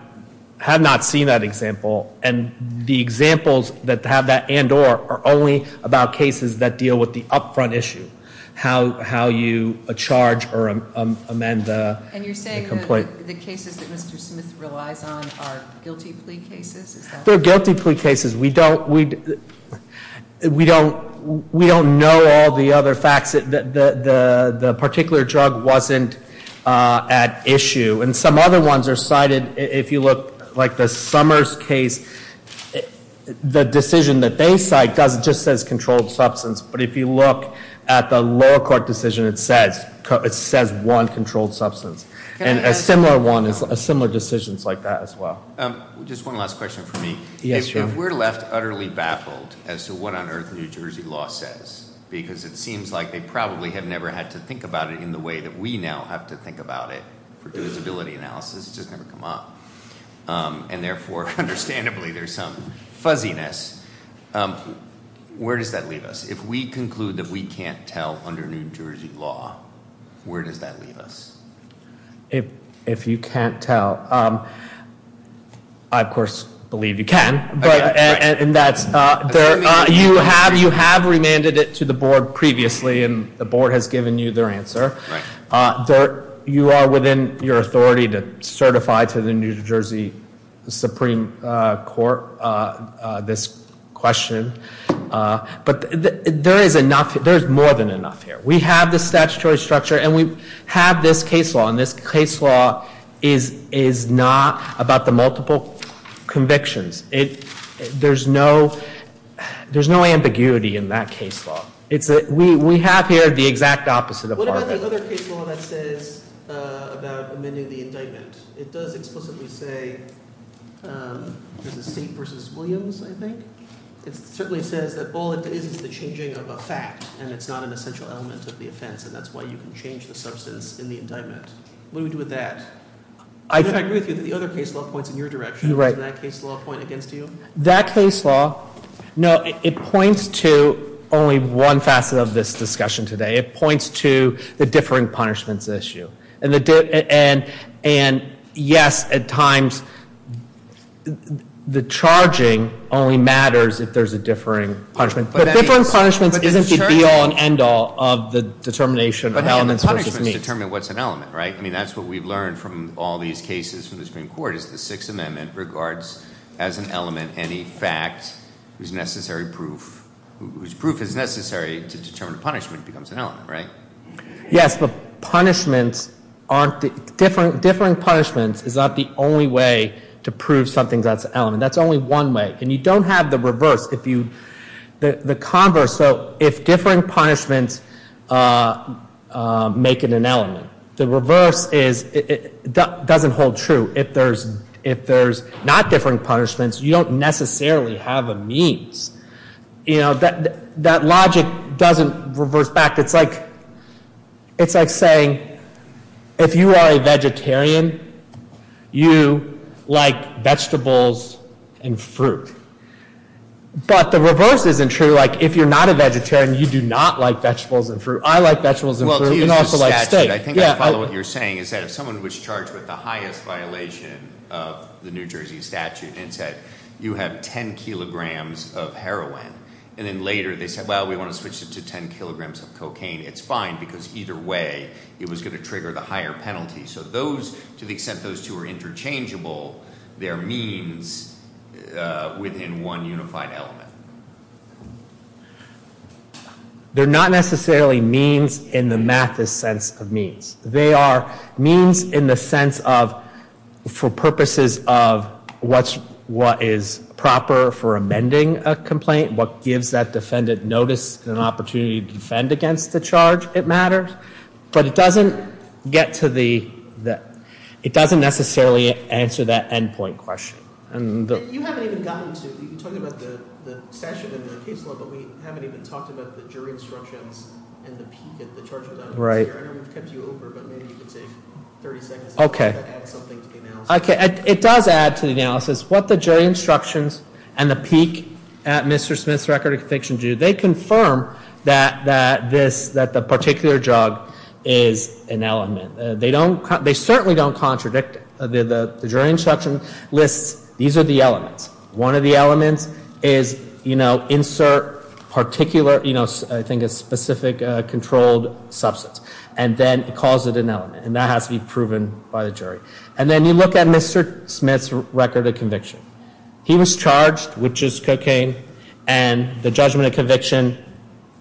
have not seen that example. And the examples that have that and or are only about cases that deal with the up front issue, how you charge or amend the complaint. And you're saying that the cases that Mr. Smith relies on are guilty plea cases? They're guilty plea cases. We don't know all the other facts. The particular drug wasn't at issue. And some other ones are cited. If you look like the Summers case, the decision that they cite just says controlled substance. But if you look at the lower court decision, it says one controlled substance. And a similar one is similar decisions like that as well. Just one last question for me. If we're left utterly baffled as to what on earth New Jersey law says, because it seems like they probably have never had to think about it in the way that we now have to think about it for divisibility analysis. It's just never come up. And therefore, understandably, there's some fuzziness. Where does that leave us? If we conclude that we can't tell under New Jersey law, where does that leave us? If you can't tell. I, of course, believe you can. You have remanded it to the board previously, and the board has given you their answer. You are within your authority to certify to the New Jersey Supreme Court this question. But there is more than enough here. We have the statutory structure, and we have this case law. And this case law is not about the multiple convictions. There's no ambiguity in that case law. We have here the exact opposite of- What about the other case law that says about amending the indictment? It does explicitly say there's a seat versus Williams, I think. It certainly says that all it is is the changing of a fact, and it's not an essential element of the offense. And that's why you can change the substance in the indictment. What do we do with that? I agree with you that the other case law points in your direction. Doesn't that case law point against you? That case law- No, it points to only one facet of this discussion today. It points to the differing punishments issue. And, yes, at times the charging only matters if there's a differing punishment. But differing punishments isn't the be-all and end-all of the determination of elements versus means. But, again, the punishments determine what's an element, right? I mean, that's what we've learned from all these cases from the Supreme Court is the Sixth Amendment regards as an element any fact whose necessary proof- whose proof is necessary to determine a punishment becomes an element, right? Yes, but punishments aren't- Differing punishments is not the only way to prove something that's an element. That's only one way. And you don't have the reverse. If you- the converse- So if differing punishments make it an element, the reverse is- doesn't hold true. If there's not differing punishments, you don't necessarily have a means. You know, that logic doesn't reverse back. It's like saying if you are a vegetarian, you like vegetables and fruit. But the reverse isn't true. Like, if you're not a vegetarian, you do not like vegetables and fruit. I like vegetables and fruit and also like steak. Well, to use the statute, I think I follow what you're saying is that if someone was charged with the highest violation of the New Jersey statute and said, you have 10 kilograms of heroin. And then later they said, well, we want to switch it to 10 kilograms of cocaine. It's fine because either way, it was going to trigger the higher penalty. So those- to the extent those two are interchangeable, they're means within one unified element. They're not necessarily means in the mathist sense of means. They are means in the sense of for purposes of what is proper for amending a complaint, what gives that defendant notice and opportunity to defend against the charge it matters. But it doesn't get to the- it doesn't necessarily answer that endpoint question. You haven't even gotten to- you talked about the statute and the case law, but we haven't even talked about the jury instructions and the peak at the charge of that. I know we've kept you over, but maybe you can take 30 seconds to add something to the analysis. Okay. It does add to the analysis what the jury instructions and the peak at Mr. Smith's record of conviction do. They confirm that this- that the particular drug is an element. They don't- they certainly don't contradict. The jury instruction lists these are the elements. One of the elements is, you know, insert particular, you know, I think a specific controlled substance, and then it calls it an element, and that has to be proven by the jury. And then you look at Mr. Smith's record of conviction. He was charged with just cocaine, and the judgment of conviction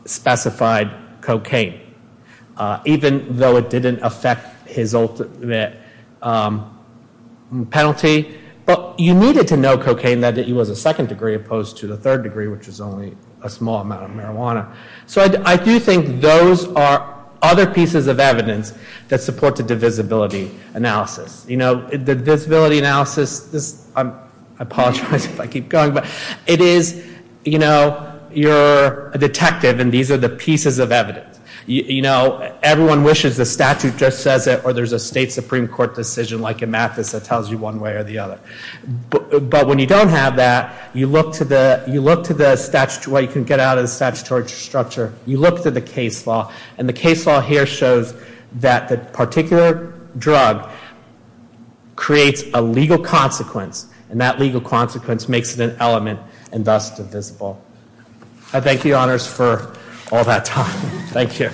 specified cocaine, even though it didn't affect his ultimate penalty. But you needed to know cocaine that he was a second degree opposed to the third degree, which is only a small amount of marijuana. So I do think those are other pieces of evidence that support the divisibility analysis. You know, the divisibility analysis is- I apologize if I keep going, but it is, you know, you're a detective, and these are the pieces of evidence. You know, everyone wishes the statute just says it, or there's a state Supreme Court decision like in Mathis that tells you one way or the other. But when you don't have that, you look to the- you look to the statutory- well, you can get out of the statutory structure. You look to the case law, and the case law here shows that the particular drug creates a legal consequence, and that legal consequence makes it an element, and thus divisible. I thank you, Your Honors, for all that time. Thank you.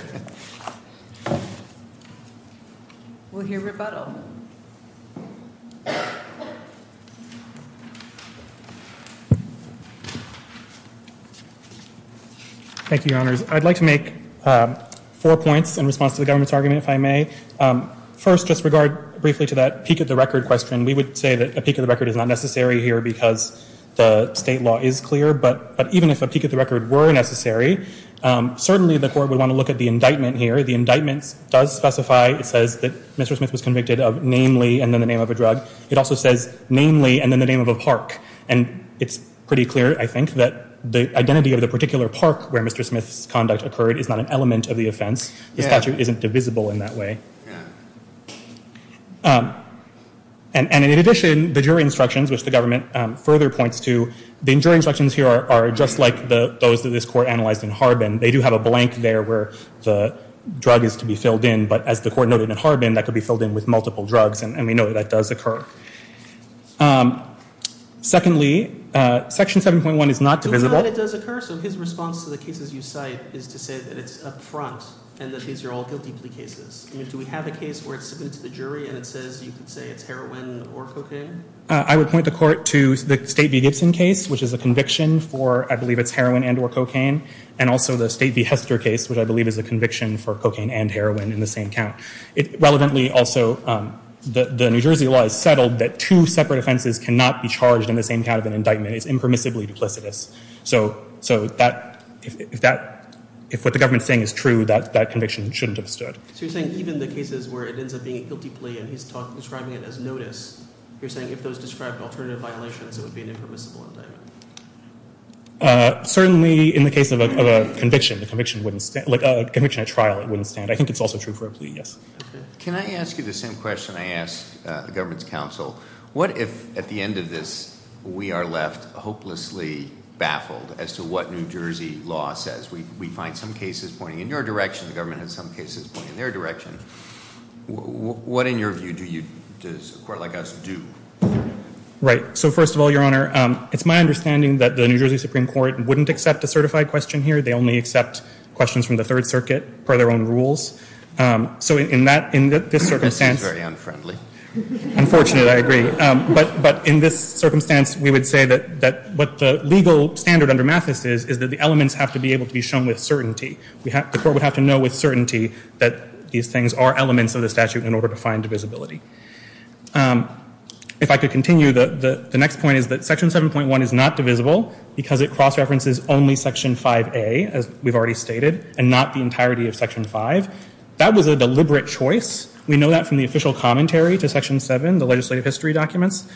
We'll hear rebuttal. Thank you, Your Honors. I'd like to make four points in response to the government's argument, if I may. First, just regard briefly to that peak of the record question. We would say that a peak of the record is not necessary here because the state law is clear, but even if a peak of the record were necessary, certainly the court would want to look at the indictment here. The indictment does specify- it says that Mr. Smith was convicted of namely and then the name of a drug. It also says namely and then the name of a park, and it's pretty clear, I think, that the identity of the particular park where Mr. Smith's conduct occurred is not an element of the offense. The statute isn't divisible in that way. And in addition, the jury instructions, which the government further points to, the jury instructions here are just like those that this court analyzed in Harbin. They do have a blank there where the drug is to be filled in, but as the court noted in Harbin, that could be filled in with multiple drugs, and we know that that does occur. Secondly, Section 7.1 is not divisible. But we know that it does occur, so his response to the cases you cite is to say that it's up front and that these are all guilty plea cases. Do we have a case where it's submitted to the jury and it says you can say it's heroin or cocaine? I would point the court to the State v. Gibson case, which is a conviction for I believe it's heroin and or cocaine, and also the State v. Hester case, which I believe is a conviction for cocaine and heroin in the same count. It relevantly also- the New Jersey law is settled that two separate offenses cannot be charged in the same kind of an indictment. It's impermissibly duplicitous. So if what the government is saying is true, that conviction shouldn't have stood. So you're saying even the cases where it ends up being a guilty plea and he's describing it as notice, you're saying if those describe alternative violations, it would be an impermissible indictment? Certainly in the case of a conviction, a conviction at trial, it wouldn't stand. I think it's also true for a plea, yes. Can I ask you the same question I asked the government's counsel? What if at the end of this we are left hopelessly baffled as to what New Jersey law says? We find some cases pointing in your direction, the government has some cases pointing in their direction. What in your view does a court like us do? Right. So first of all, Your Honor, it's my understanding that the New Jersey Supreme Court wouldn't accept a certified question here. They only accept questions from the Third Circuit per their own rules. So in this circumstance- This is very unfriendly. Unfortunate, I agree. But in this circumstance, we would say that what the legal standard under Mathis is, is that the elements have to be able to be shown with certainty. The court would have to know with certainty that these things are elements of the statute in order to find divisibility. If I could continue, the next point is that Section 7.1 is not divisible because it cross-references only Section 5A, as we've already stated, and not the entirety of Section 5. That was a deliberate choice. We know that from the official commentary to Section 7, the legislative history documents.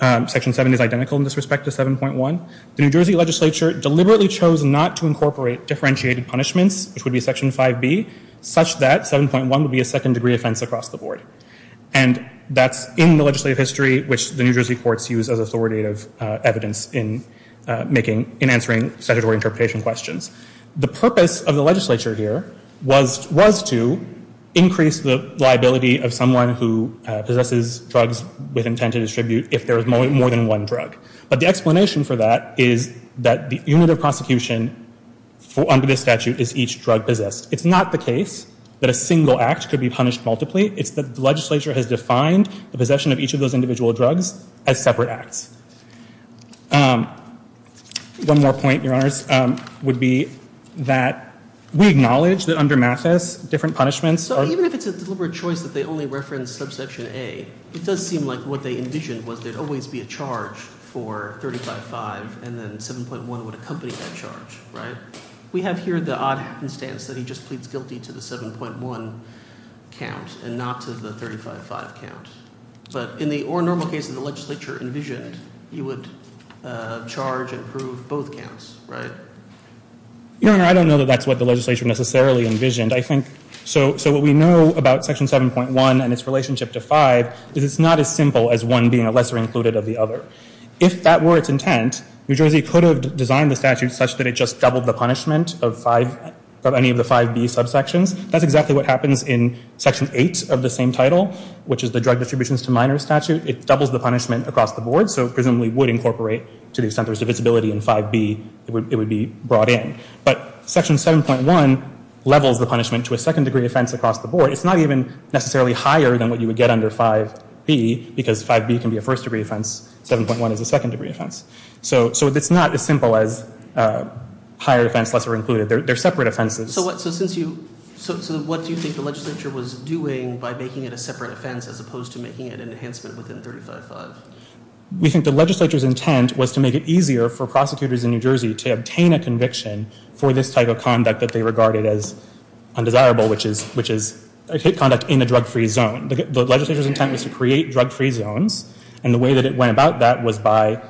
Section 7 is identical in this respect to 7.1. The New Jersey legislature deliberately chose not to incorporate differentiated punishments, which would be Section 5B, such that 7.1 would be a second-degree offense across the board. And that's in the legislative history, which the New Jersey courts use as authoritative evidence in answering statutory interpretation questions. The purpose of the legislature here was to increase the liability of someone who possesses drugs with intent to distribute if there is more than one drug. But the explanation for that is that the unit of prosecution under this statute is each drug possessed. It's not the case that a single act could be punished multiply. It's that the legislature has defined the possession of each of those individual drugs as separate acts. One more point, Your Honors, would be that we acknowledge that under Mathis, different punishments are— So even if it's a deliberate choice that they only reference subsection A, it does seem like what they envisioned was there would always be a charge for 35-5, and then 7.1 would accompany that charge, right? We have here the odd instance that he just pleads guilty to the 7.1 count and not to the 35-5 count. But in the—or normal case that the legislature envisioned, you would charge and prove both counts, right? Your Honor, I don't know that that's what the legislature necessarily envisioned. I think—so what we know about Section 7.1 and its relationship to 5 is it's not as simple as one being a lesser included of the other. If that were its intent, New Jersey could have designed the statute such that it just doubled the punishment of any of the 5B subsections. That's exactly what happens in Section 8 of the same title, which is the drug distributions to minors statute. It doubles the punishment across the board, so presumably would incorporate to the extent there's divisibility in 5B, it would be brought in. But Section 7.1 levels the punishment to a second-degree offense across the board. It's not even necessarily higher than what you would get under 5B because 5B can be a first-degree offense. 7.1 is a second-degree offense. So it's not as simple as higher offense, lesser included. They're separate offenses. So what—so since you—so what do you think the legislature was doing by making it a separate offense as opposed to making it an enhancement within 35-5? We think the legislature's intent was to make it easier for prosecutors in New Jersey to obtain a conviction for this type of conduct that they regarded as undesirable, which is hate conduct in a drug-free zone. The legislature's intent was to create drug-free zones, and the way that it went about that was by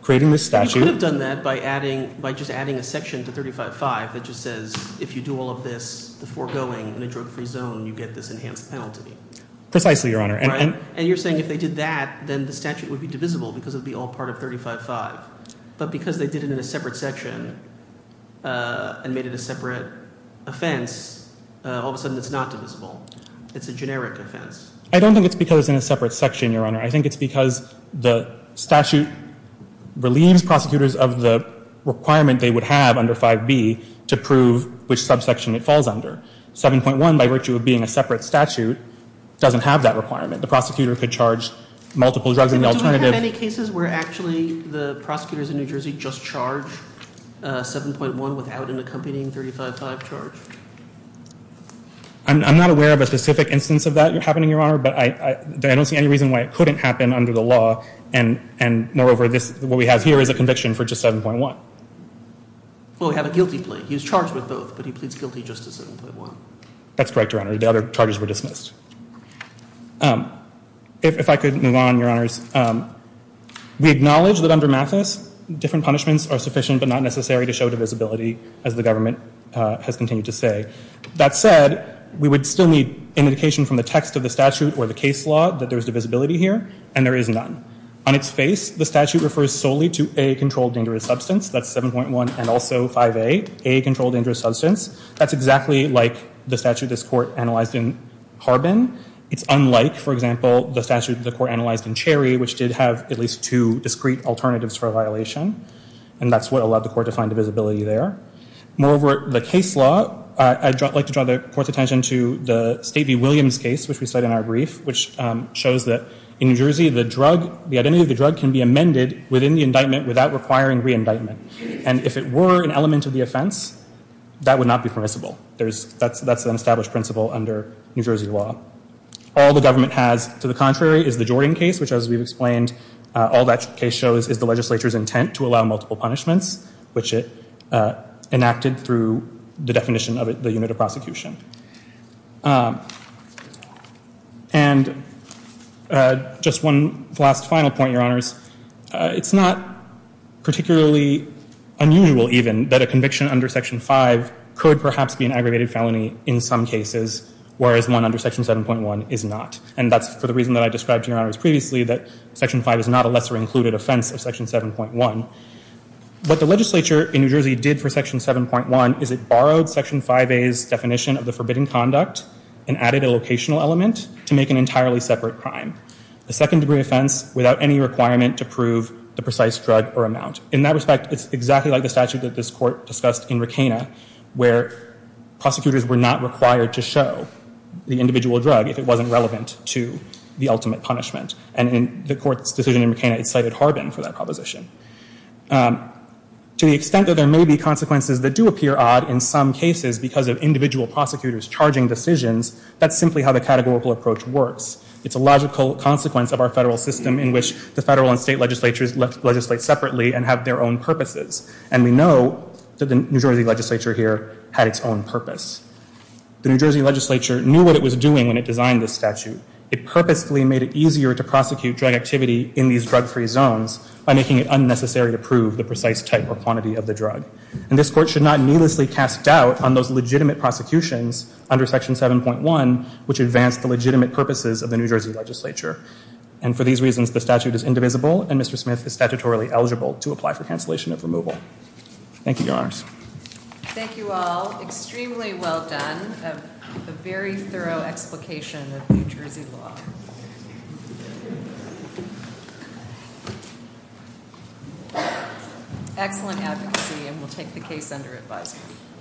creating this statute. You could have done that by adding—by just adding a section to 35-5 that just says if you do all of this, the foregoing in a drug-free zone, you get this enhanced penalty. Precisely, Your Honor. And you're saying if they did that, then the statute would be divisible because it would be all part of 35-5. But because they did it in a separate section and made it a separate offense, all of a sudden it's not divisible. It's a generic offense. I don't think it's because it's in a separate section, Your Honor. I think it's because the statute relieves prosecutors of the requirement they would have under 5B to prove which subsection it falls under. 7.1, by virtue of being a separate statute, doesn't have that requirement. The prosecutor could charge multiple drugs in the alternative— Do prosecutors in New Jersey just charge 7.1 without an accompanying 35-5 charge? I'm not aware of a specific instance of that happening, Your Honor, but I don't see any reason why it couldn't happen under the law. And moreover, what we have here is a conviction for just 7.1. Well, we have a guilty plea. He's charged with both, but he pleads guilty just to 7.1. That's correct, Your Honor. The other charges were dismissed. If I could move on, Your Honors. We acknowledge that under Mathis, different punishments are sufficient but not necessary to show divisibility, as the government has continued to say. That said, we would still need indication from the text of the statute or the case law that there is divisibility here, and there is none. On its face, the statute refers solely to a controlled dangerous substance. That's 7.1 and also 5A, a controlled dangerous substance. That's exactly like the statute this court analyzed in Harbin. It's unlike, for example, the statute the court analyzed in Cherry, which did have at least two discrete alternatives for a violation. And that's what allowed the court to find divisibility there. Moreover, the case law, I'd like to draw the court's attention to the State v. Williams case, which we cite in our brief, which shows that in New Jersey, the drug, the identity of the drug can be amended within the indictment without requiring re-indictment. And if it were an element of the offense, that would not be permissible. That's an established principle under New Jersey law. All the government has, to the contrary, is the Jordan case, which as we've explained, all that case shows is the legislature's intent to allow multiple punishments, which it enacted through the definition of the unit of prosecution. And just one last final point, Your Honors. It's not particularly unusual, even, that a conviction under Section 5 could perhaps be an aggregated felony in some cases, whereas one under Section 7.1 is not. And that's for the reason that I described to Your Honors previously, that Section 5 is not a lesser included offense of Section 7.1. What the legislature in New Jersey did for Section 7.1 is it borrowed Section 5A's definition of the unit of prosecution for the forbidden conduct and added a locational element to make an entirely separate crime, a second degree offense without any requirement to prove the precise drug or amount. In that respect, it's exactly like the statute that this Court discussed in Rackena where prosecutors were not required to show the individual drug if it wasn't relevant to the ultimate punishment. And in the Court's decision in Rackena, it cited Harbin for that proposition. To the extent that there may be consequences that do appear odd in some cases because of individual prosecutors charging decisions, that's simply how the categorical approach works. It's a logical consequence of our federal system in which the federal and state legislatures legislate separately and have their own purposes. And we know that the New Jersey legislature here had its own purpose. The New Jersey legislature knew what it was doing when it designed this statute. It purposefully made it easier to prosecute drug activity in these drug-free zones by making it unnecessary to prove the precise type or quantity of the drug. And this Court should not needlessly cast doubt on those legitimate prosecutions under Section 7.1 which advance the legitimate purposes of the New Jersey legislature. And for these reasons, the statute is indivisible and Mr. Smith is statutorily eligible to apply for cancellation of removal. Thank you, Your Honors. Thank you all. Extremely well done. A very thorough explication of New Jersey law. Excellent advocacy, and we'll take the case under advisory.